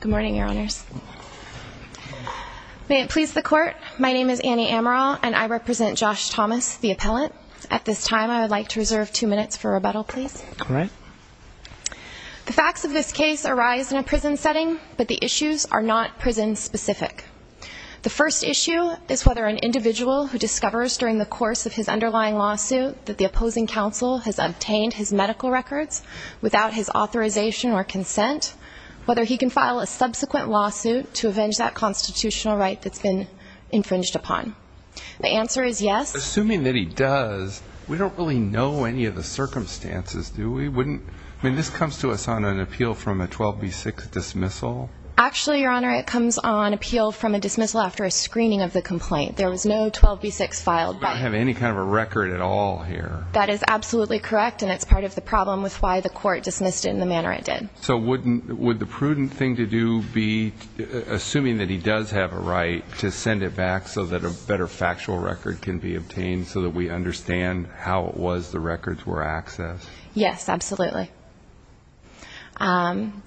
Good morning, Your Honors. May it please the Court, my name is Annie Amaral and I represent Josh Thomas, the appellant. At this time, I would like to reserve two minutes for rebuttal, please. All right. The facts of this case arise in a prison setting, but the issues are not prison-specific. The first issue is whether an individual who discovers during the course of his underlying lawsuit that the opposing counsel has obtained his medical records without his authorization or consent, whether he can file a subsequent lawsuit to avenge that constitutional right that's been infringed upon. The answer is yes. Assuming that he does, we don't really know any of the circumstances, do we? I mean, this comes to us on an appeal from a 12b6 dismissal. Actually, Your Honor, it comes on appeal from a dismissal after a screening of the complaint. There was no 12b6 filed by the court. You don't have any kind of a record at all here. That is absolutely correct, and it's part of the problem with why the court dismissed it in the manner it did. So would the prudent thing to do be, assuming that he does have a right, to send it back so that a better factual record can be obtained, so that we understand how it was the records were accessed? Yes, absolutely. And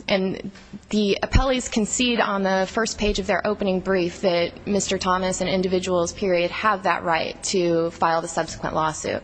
the appellees concede on the first page of their opening brief that Mr. Thomas and individuals, period, have that right to file the subsequent lawsuit.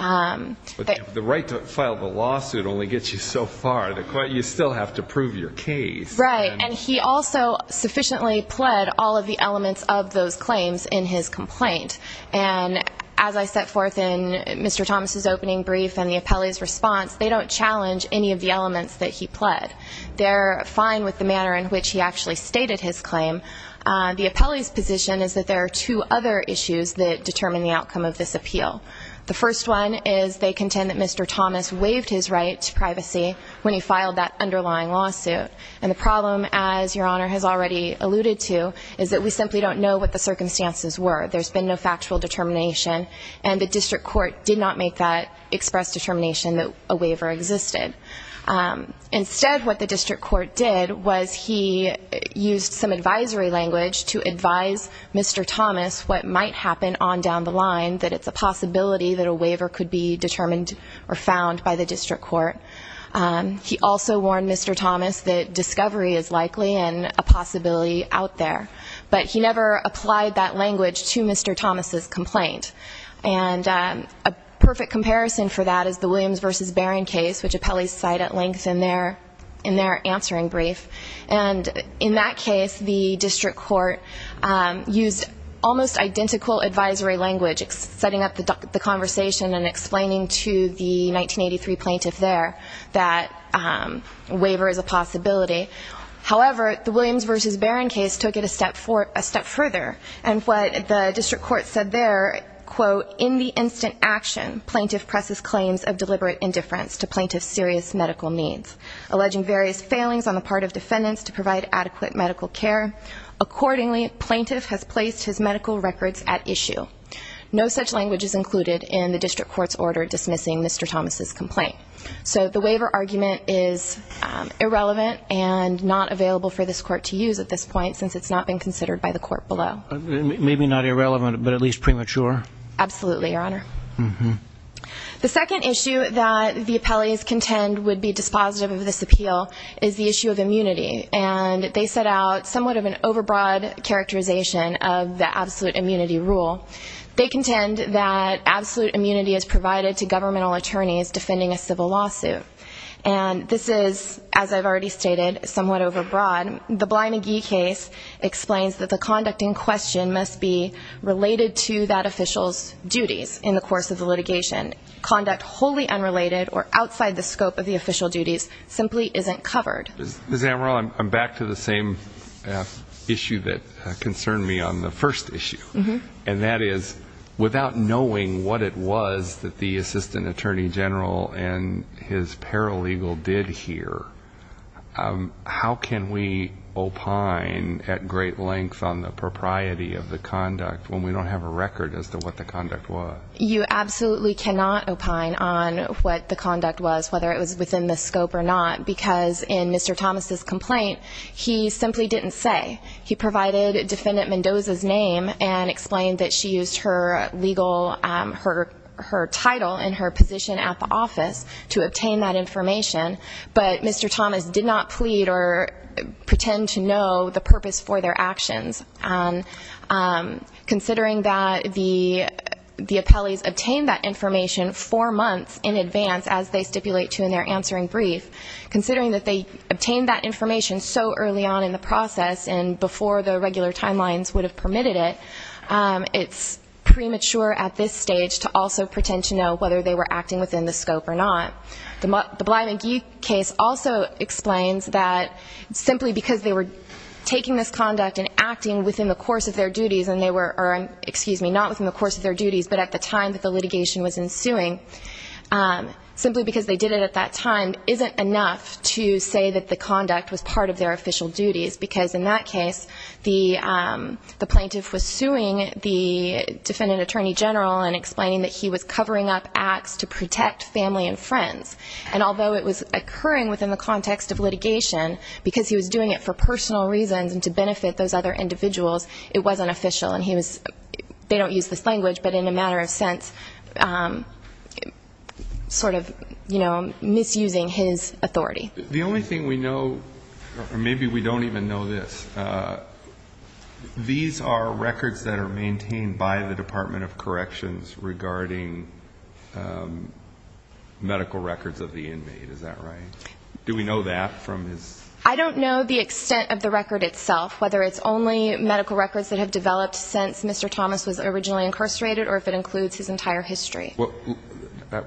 The right to file the lawsuit only gets you so far. The court, you still have to prove your case. Right. And he also sufficiently pled all of the elements of those claims in his complaint. And as I set forth in Mr. Thomas' opening brief and the appellee's response, they don't challenge any of the elements that he pled. They're fine with the manner in which he actually stated his claim. The appellee's position is that there are two other issues that determine the outcome of this appeal. The first one is they contend that Mr. Thomas waived his right to privacy when he filed that underlying lawsuit. And the problem, as Your Honor has already alluded to, is that we simply don't know what the circumstances were. There's been no factual determination. And the district court did not make that express determination that a waiver existed. Instead what the district court did was he used some advisory language to advise Mr. Thomas what might happen on down the line, that it's a possibility that a waiver could be determined or found by the district court. He also warned Mr. Thomas that discovery is likely and a possibility out there. But he never applied that language to Mr. Thomas' complaint. And a perfect comparison for that is the Williams v. Barron case, which appellees cite at length in their answering brief. And in that case, the district court used almost identical advisory language, setting up the conversation and explaining to the 1983 plaintiff there that a waiver is a possibility. However, the Williams v. Barron case took it a step further. And what the district court said there, quote, in the instant action, plaintiff presses claims of deliberate indifference to plaintiff's serious medical needs, alleging various failings on the part of defendants to provide adequate medical care. Accordingly, plaintiff has placed his medical records at issue. No such language is included in the district court's order dismissing Mr. Thomas' complaint. So the waiver argument is irrelevant and not available for this court to use at this point since it's not been considered by the court below. Maybe not irrelevant, but at least premature. Absolutely, Your Honor. The second issue that the appellees contend would be dispositive of this appeal is the issue of immunity. And they set out somewhat of an overbroad characterization of the absolute immunity rule. They contend that absolute immunity is provided to governmental attorneys defending a civil lawsuit. And this is, as I've already stated, somewhat overbroad. The Bly McGee case explains that the conduct in question must be related to that official's duties in the course of the litigation. Conduct wholly unrelated or outside the scope of the official duties simply isn't covered. Ms. Amaral, I'm back to the same issue that concerned me on the first issue. And that is, without knowing what it was that the Assistant Attorney General and his paralegal did here, how can we opine at great length on the propriety of the conduct when we don't have a record as to what the conduct was? You absolutely cannot opine on what the conduct was, whether it was within the scope or not, because in Mr. Thomas' complaint, he simply didn't say. He provided Defendant Mendoza's and explained that she used her legal, her title and her position at the office to obtain that information. But Mr. Thomas did not plead or pretend to know the purpose for their actions. Considering that the appellees obtained that information four months in advance, as they stipulate to in their answering brief, considering that they obtained that information so early on in the process and before the regular timelines would have permitted it, it's premature at this stage to also pretend to know whether they were acting within the scope or not. The Bly-McGee case also explains that simply because they were taking this conduct and acting within the course of their duties and they were, excuse me, not within the course of their duties but at the time that the litigation was ensuing, simply because they did it at that time isn't enough to say that the conduct was part of their official duties, because in that case, the plaintiff was suing the Defendant Attorney General and explaining that he was covering up acts to protect family and friends. And although it was occurring within the context of litigation, because he was doing it for personal reasons and to benefit those other individuals, it wasn't official. And he was, they don't use this misusing his authority. The only thing we know, or maybe we don't even know this, these are records that are maintained by the Department of Corrections regarding medical records of the inmate, is that right? Do we know that from his? I don't know the extent of the record itself, whether it's only medical records that have developed since Mr. Thomas was originally incarcerated or if it includes his entire history.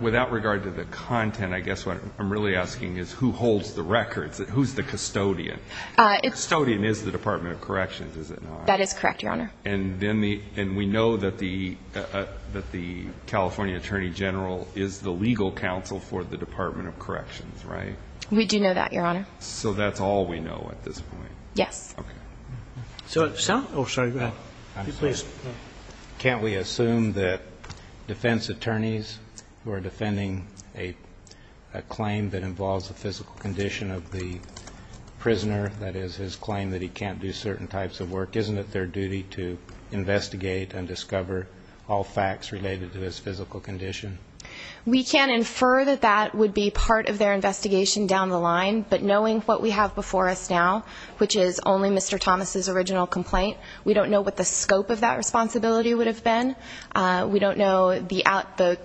Without regard to the content, I guess what I'm really asking is who holds the records? Who's the custodian? The custodian is the Department of Corrections, is it not? That is correct, Your Honor. And we know that the California Attorney General is the legal counsel for the Department of Corrections, right? We do know that, Your Honor. So that's all we know at this point? Yes. Okay. Sir? Oh, sorry, go ahead. Please. Can't we assume that defense attorneys who are defending a claim that involves a physical condition of the prisoner, that is his claim that he can't do certain types of work, isn't it their duty to investigate and discover all facts related to his physical condition? We can infer that that would be part of their investigation down the line, but knowing what we have before us now, which is only Mr. Thomas' original complaint, we don't know what the scope of that responsibility would have been. We don't know the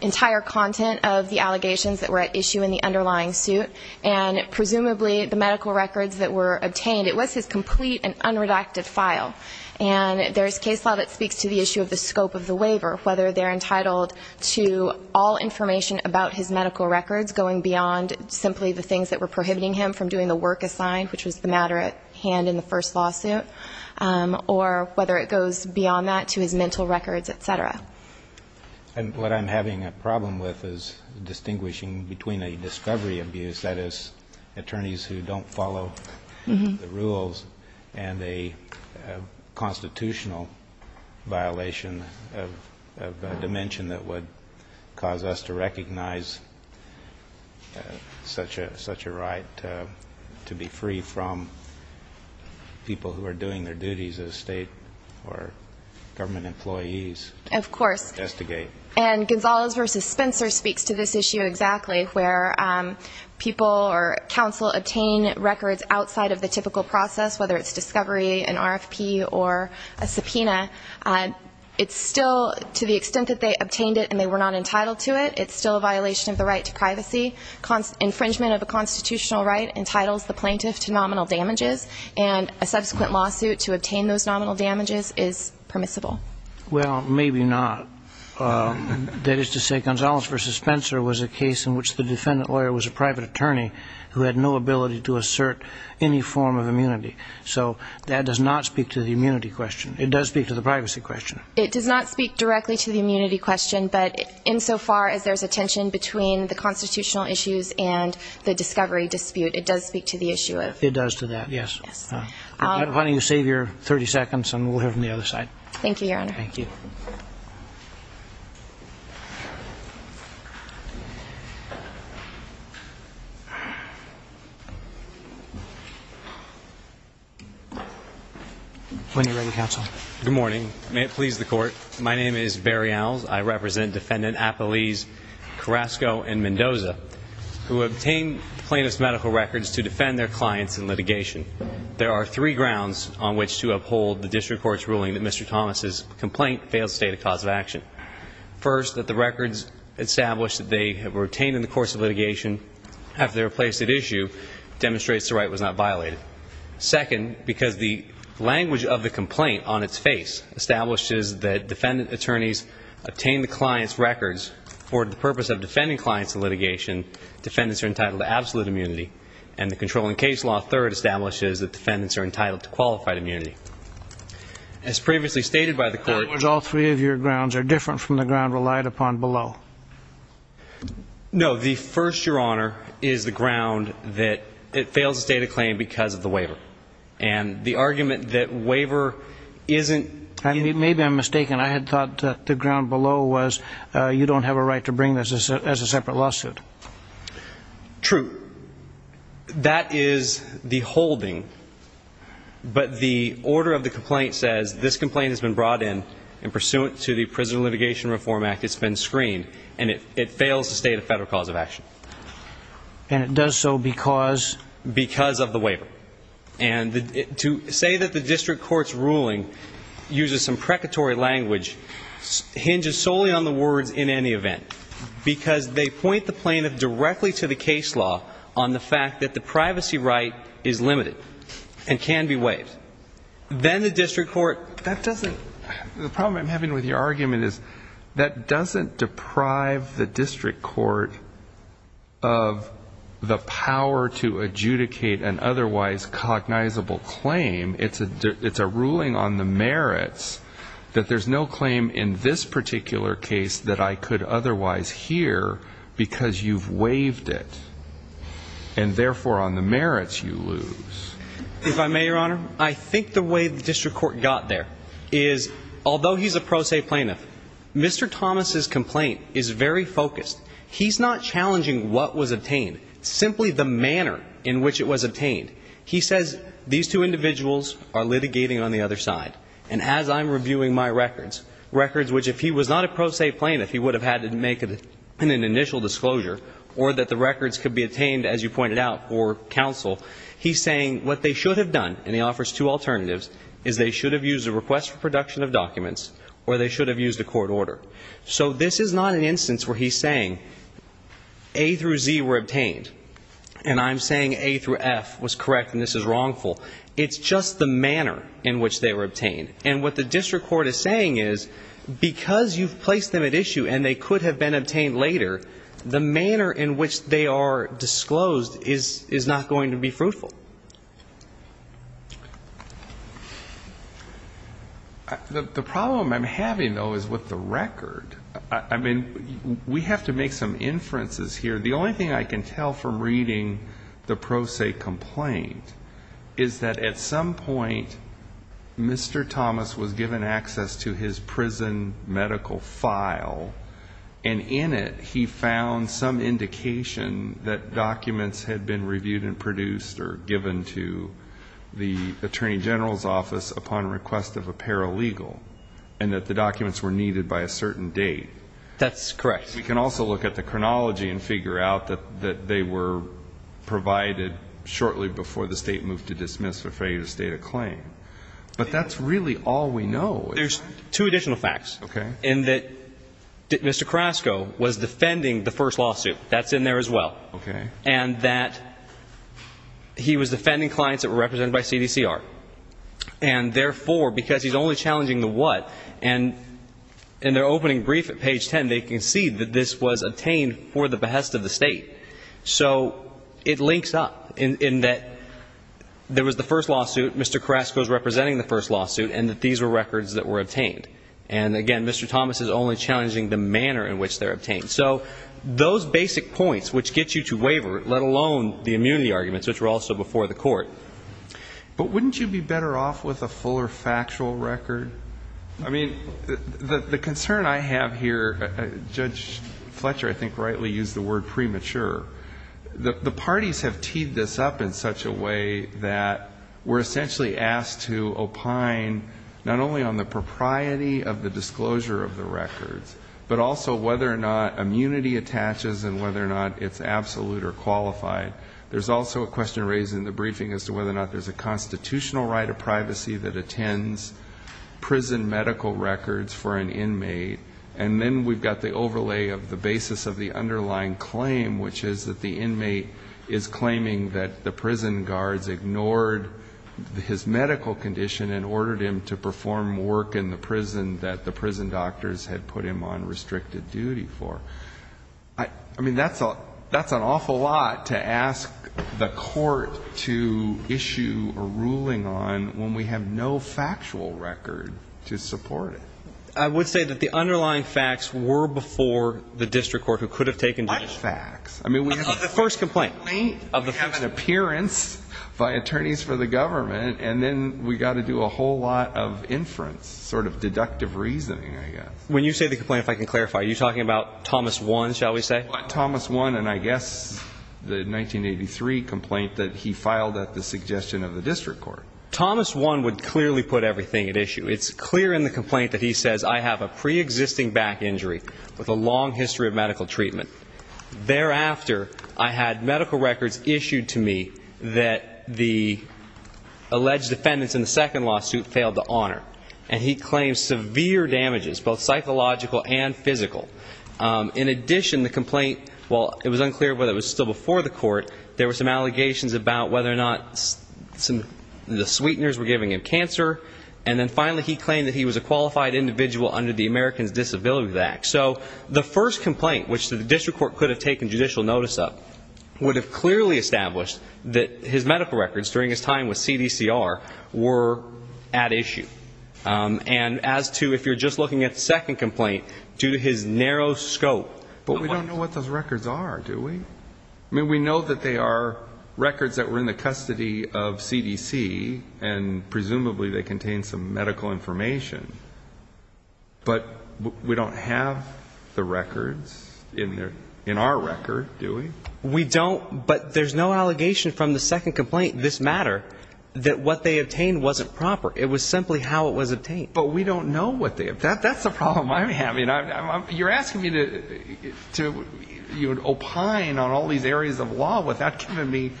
entire content of the allegations that were at issue in the underlying suit and presumably the medical records that were obtained. It was his complete and unredacted file and there's case law that speaks to the issue of the scope of the waiver, whether they're entitled to all information about his medical records, going beyond simply the things that were prohibiting him from doing the work assigned, which was the matter at hand in the first lawsuit, or whether it goes beyond that to his mental records, et cetera. And what I'm having a problem with is distinguishing between a discovery abuse, that is attorneys who don't follow the rules, and a constitutional violation of a dimension that would cause us to recognize such a right to be free from people who are doing their duties as state or government employees. Of course. To investigate. And Gonzalez versus Spencer speaks to this issue exactly, where people or counsel obtain records outside of the typical process, whether it's discovery, an RFP, or a subpoena. It's still, to the extent that they obtained it and they were not entitled to it, it's still a violation of the right to privacy. Infringement of a constitutional right entitles the plaintiff to nominal damages, and a subsequent lawsuit to obtain those nominal damages is permissible. Well, maybe not. That is to say, Gonzalez versus Spencer was a case in which the defendant lawyer was a private attorney who had no ability to assert any form of immunity. So that does not speak to the immunity question. It does speak to the privacy question. It does not speak directly to the immunity question, but insofar as there's a tension between the constitutional issues and the discovery dispute, it does speak to the issue of... It does to that, yes. Yes. Why don't you save your 30 seconds, and we'll hear from the other side. Thank you, Your Honor. Thank you. When you're ready, counsel. Good morning. May it please the Court. My name is Barry Owles. I represent Defendant Apolise Carrasco and Mendoza, who obtained plaintiff's medical records to defend their clients in litigation. There are three grounds on which to uphold the district court's ruling that Mr. Thomas' complaint fails to state a cause of action. First, that the records established that they have retained in the course of litigation after they were placed at issue demonstrates the right was not violated. Second, because the language of the complaint on its face establishes that defendant attorneys obtained the client's records for the purpose of defending clients in litigation, defendants are entitled to absolute immunity, and the controlling case law, third, establishes that defendants are entitled to qualified immunity. As previously stated by the Court That was all three of your grounds. They're different from the ground relied upon below. No. The first, Your Honor, is the ground that it fails to state a claim because of the waiver, and the argument that waiver isn't Maybe I'm mistaken. I had thought that the ground below was you don't have a right to bring this as a separate lawsuit. True. That is the holding, but the order of the complaint says this complaint has been brought in, and pursuant to the Prison Litigation Reform Act, it's been screened, and it fails to state a federal cause of action. And it does so because Because of the waiver. And to say that the district court's ruling uses some precatory language hinges solely on the words in any event, because they point the plaintiff directly to the case law on the fact that the privacy right is limited and can be waived. Then the district court That doesn't The problem I'm having with your argument is that doesn't deprive the district court of the power to adjudicate an otherwise cognizable claim. It's a ruling on the merits that there's no claim in this particular case that I could otherwise hear because you've waived it, and therefore on the merits you lose. If I may, Your Honor, I think the way the district court got there is, although he's a pro se plaintiff, Mr. Thomas's complaint is very focused. He's not challenging what was obtained, simply the manner in which it was obtained. He says these two individuals are litigating on the other side, and as I'm reviewing my records, records which if he was not a pro se plaintiff, he would have had to make an initial disclosure, or that the records could be obtained as you pointed out for counsel. He's saying what they should have done, and he offers two alternatives, is they should have used a request for production of documents, or they should have used a court order. So this is not an instance where he's saying A through Z were obtained, and I'm saying A through F was correct and this is wrongful. It's just the manner in which they were obtained. And what the district court is saying is, because you've placed them at issue and they could have been obtained later, the manner in which they are disclosed is not going to be fruitful. The problem I'm having, though, is with the record. I mean, we have to make some inferences here. The only thing I can tell from reading the pro se complaint is that at some point Mr. Thomas was given access to his prison medical file, and in it he found some indication that documents had been reviewed and produced or given to the Attorney General's office upon request of a paralegal, and that the documents were needed by a certain date. That's correct. We can also look at the chronology and figure out that they were provided shortly before the State moved to dismiss or failure to state a claim. But that's really all we know. There's two additional facts. Okay. In that Mr. Carrasco was defending the first lawsuit. That's in there as well. Okay. And that he was defending clients that were represented by CDCR. And therefore, because he's only challenging the what, and in their opening brief at page 10, they concede that this was obtained for the behest of the State. So it links up in that there was the first lawsuit, Mr. Carrasco's representing the first lawsuit, and that these were records that were obtained. And again, Mr. Thomas is only challenging the manner in which they're obtained. So those basic points which get you to waiver, let alone the immunity arguments, which were also before the Court. But wouldn't you be better off with a fuller factual record? I mean, the concern I have here, Judge Fletcher I think rightly used the word premature, the parties have teed this up in such a way that we're essentially asked to opine not only on the propriety of the disclosure of the records, but also whether or not immunity attaches and whether or not it's absolute or qualified. There's also a question raised in the briefing as to whether or not there's a constitutional right of privacy that attends prison medical records for an inmate. And then we've got the overlay of the basis of the underlying claim, which is that the inmate is claiming that the prison guards ignored his medical condition and ordered him to perform work in the prison that the prison doctors had put him on restricted duty for. I mean, that's an awful lot to ask the Court to issue a ruling on when we have no factual record to support it. I would say that the underlying facts were before the district court who could have taken the case. What facts? Of the first complaint. Of the first complaint. We have an appearance by attorneys for the government, and then we've got to do a whole lot of inference, sort of deductive reasoning, I guess. When you say the complaint, if I can clarify, are you talking about Thomas 1, shall we say? Thomas 1, and I guess the 1983 complaint that he filed at the suggestion of the district court. Thomas 1 would clearly put everything at issue. It's clear in the complaint that he says, I have a preexisting back injury with a long history of medical treatment. Thereafter, I had medical records issued to me that the alleged defendants in the second lawsuit failed to honor. And he claims severe damages, both psychological and physical. In addition, the complaint, while it was unclear whether it was still before the court, there were some allegations about whether or not the sweeteners were giving him cancer. And then finally, he claimed that he was a qualified individual under the Americans with Disabilities Act. So the first complaint, which the district court could have taken judicial notice of, would have clearly established that his medical records during his TCR were at issue. And as to if you're just looking at the second complaint, due to his narrow scope. But we don't know what those records are, do we? I mean, we know that they are records that were in the custody of CDC, and presumably they contain some medical information. But we don't have the records in our record, do we? We don't. But there's no allegation from the second complaint, this matter, that what they obtained wasn't proper. It was simply how it was obtained. But we don't know what they obtained. That's the problem I'm having. You're asking me to opine on all these areas of law without giving me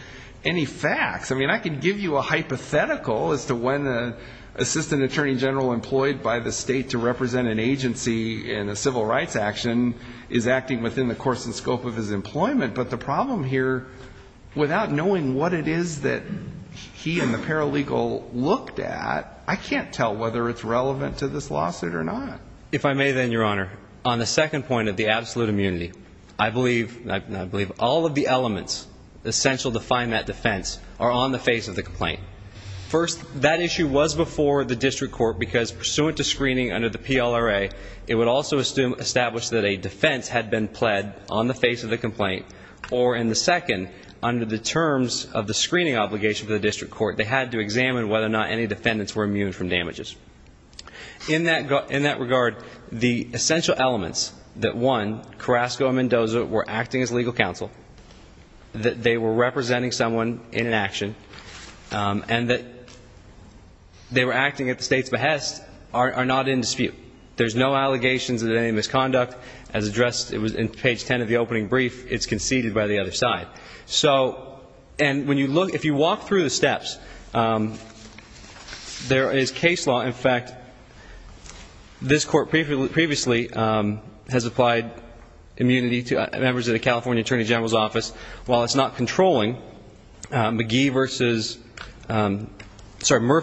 any facts. I mean, I can give you a hypothetical as to when the assistant attorney general employed by the state to represent an agency in a civil rights action is acting within the course and scope of his employment. But the problem here, without knowing what it is that he and the paralegal looked at, I can't tell whether it's relevant to this lawsuit or not. If I may, then, Your Honor, on the second point of the absolute immunity, I believe all of the elements essential to find that defense are on the face of the complaint. First, that issue was before the district court because, pursuant to screening under the PLRA, it would also establish that a defense had been on the face of the complaint. Or, in the second, under the terms of the screening obligation for the district court, they had to examine whether or not any defendants were immune from damages. In that regard, the essential elements that, one, Carrasco and Mendoza were acting as legal counsel, that they were representing someone in an action, and that they were acting at the state's behest are not in dispute. There's no allegations of any misconduct. As addressed in page 10 of the opening brief, it's conceded by the other side. So, and when you look, if you walk through the steps, there is case law. In fact, this court previously has applied immunity to members of the California Attorney General's Office. While it's not controlling, Murphy v.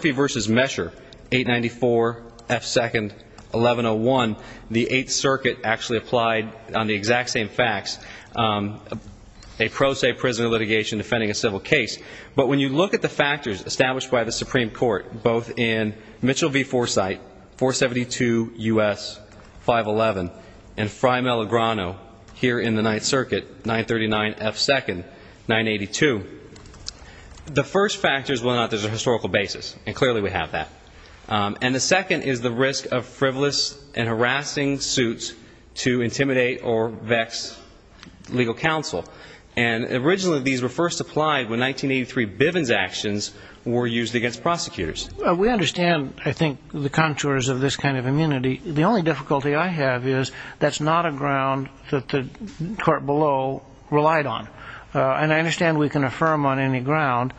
Mesher, 894 F. 2nd, 1101, the 8th Circuit actually applied, on the exact same facts, a pro se prisoner litigation defending a civil case. But when you look at the factors established by the Supreme Court, both in Mitchell v. Forsythe, 472 U.S. 511, and Frye-Melligrano, here in the 9th Circuit, 939 F. 2nd, 982, the first factor is whether or not there's a historical basis. And clearly we have that. And the second is the risk of frivolous and harassing suits to intimidate or vex legal counsel. And originally these were first applied when 1983 Bivens actions were used against prosecutors. We understand, I think, the contours of this kind of immunity. The only difficulty I have is that's not a ground that the court below relied on. And I understand we can affirm on any ground.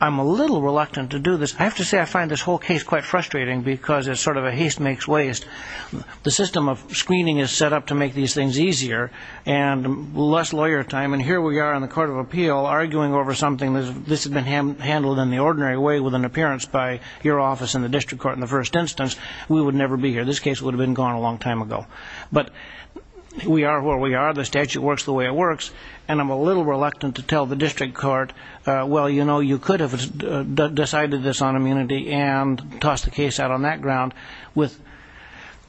I'm a little reluctant to do this. I have to say I find this whole case quite frustrating because it's sort of a haste makes waste. The system of screening is set up to make these things easier and less lawyer time. And here we are in the Court of Appeal arguing over something that this has been handled in the ordinary way with an appearance by your office in the district court in the first instance. We would never be here. This case would have been gone a long time ago. But we are where we are. The statute works the way it works. And I'm a little reluctant to tell the district court, well, you know, if it decided this on immunity and tossed the case out on that ground with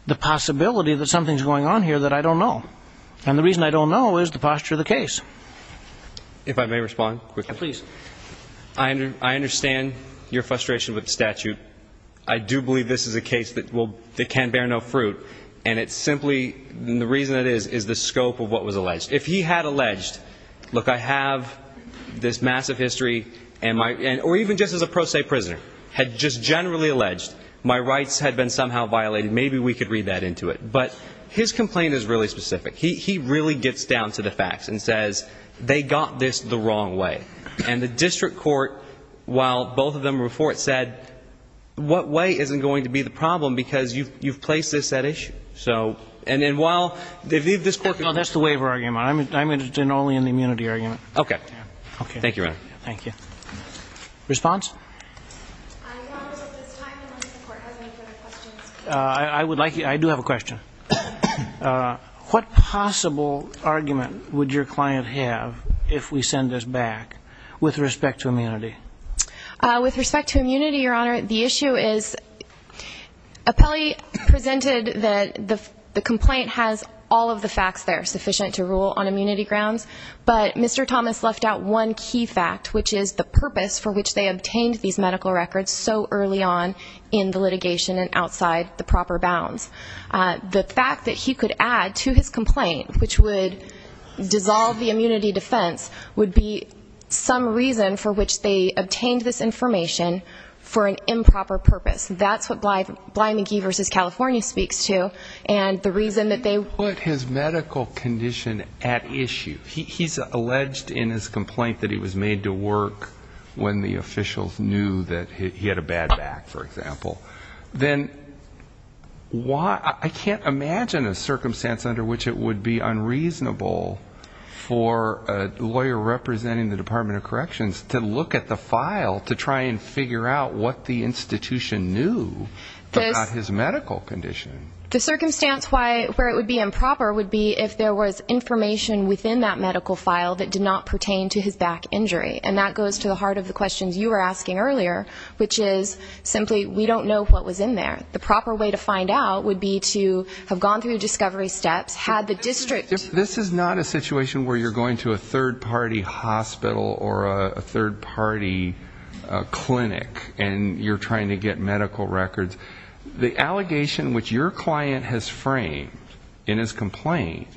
the possibility that something is going on here that I don't know. And the reason I don't know is the posture of the case. If I may respond quickly. Please. I understand your frustration with the statute. I do believe this is a case that can bear no fruit. And it's simply, the reason it is, is the scope of what was alleged. If he had alleged, look, I have this massive history. Or even just as a pro se prisoner. Had just generally alleged my rights had been somehow violated. Maybe we could read that into it. But his complaint is really specific. He really gets down to the facts and says they got this the wrong way. And the district court, while both of them were for it, said what way isn't going to be the problem because you've placed this at issue. So, and while this Court. No, that's the waiver argument. I'm interested only in the immunity argument. Okay. Thank you, Your Honor. Thank you. Response? I would like, I do have a question. What possible argument would your client have if we send this back with respect to immunity? With respect to immunity, Your Honor, the issue is. Appellee presented that the complaint has all of the facts there. Sufficient to rule on immunity grounds. But Mr. Thomas left out one key fact, which is the purpose for which they obtained these medical records so early on in the litigation and outside the proper bounds. The fact that he could add to his complaint, which would dissolve the immunity defense, would be some reason for which they obtained this information for an improper purpose. That's what Blimey Key v. California speaks to. And the reason that they. He put his medical condition at issue. He's alleged in his complaint that he was made to work when the officials knew that he had a bad back, for example. Then why, I can't imagine a circumstance under which it would be unreasonable for a lawyer representing the Department of Corrections to look at the file to try and figure out what the institution knew about his medical condition. The circumstance where it would be improper would be if there was information within that medical file that did not pertain to his back injury. And that goes to the heart of the questions you were asking earlier, which is simply we don't know what was in there. The proper way to find out would be to have gone through discovery steps, had the district. This is not a situation where you're going to a third-party hospital or a third-party clinic and you're trying to get medical records. The allegation which your client has framed in his complaint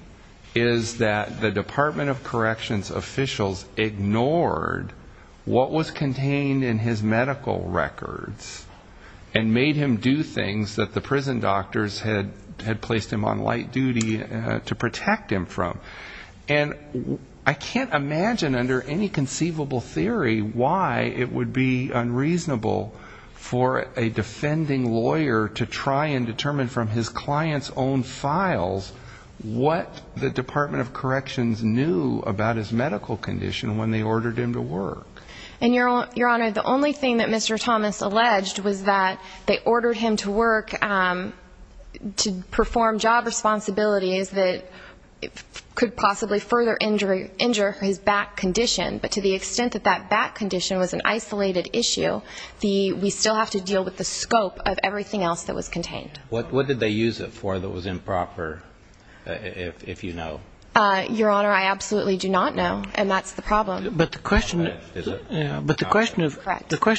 is that the Department of Corrections officials ignored what was contained in his medical records and made him do things that the prison doctors had placed him on light duty to protect him from. And I can't imagine under any conceivable theory why it would be and find out what was in there. I can't imagine a lawyer to try and determine from his client's own files what the Department of Corrections knew about his medical condition when they ordered him to work. And, Your Honor, the only thing that Mr. Thomas alleged was that they ordered him to work to perform job responsibilities that could possibly further injure his back condition. But to the extent that that back condition was an isolated issue, we still have to deal with the scope of everything. Everything else that was contained. What did they use it for that was improper, if you know? Your Honor, I absolutely do not know. And that's the problem. But the question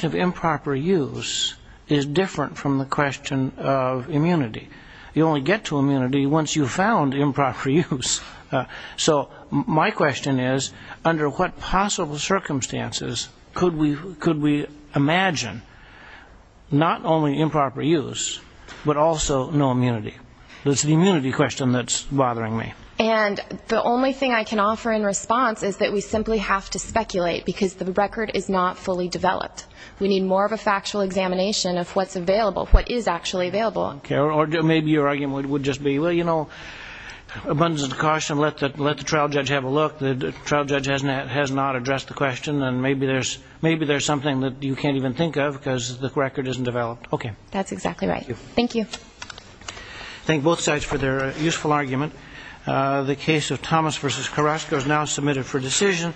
of improper use is different from the question of immunity. You only get to immunity once you've found improper use. So my question is, under what possible circumstances could we imagine not only improper use but also improper use? But also no immunity. It's the immunity question that's bothering me. And the only thing I can offer in response is that we simply have to speculate, because the record is not fully developed. We need more of a factual examination of what's available, what is actually available. Or maybe your argument would just be, well, you know, abundance of caution, let the trial judge have a look. The trial judge has not addressed the question, and maybe there's something that you can't even think of because the record isn't developed. Okay. That's exactly right. Thank you. Thank both sides for their useful argument. The case of Thomas v. Carrasco is now submitted for decision.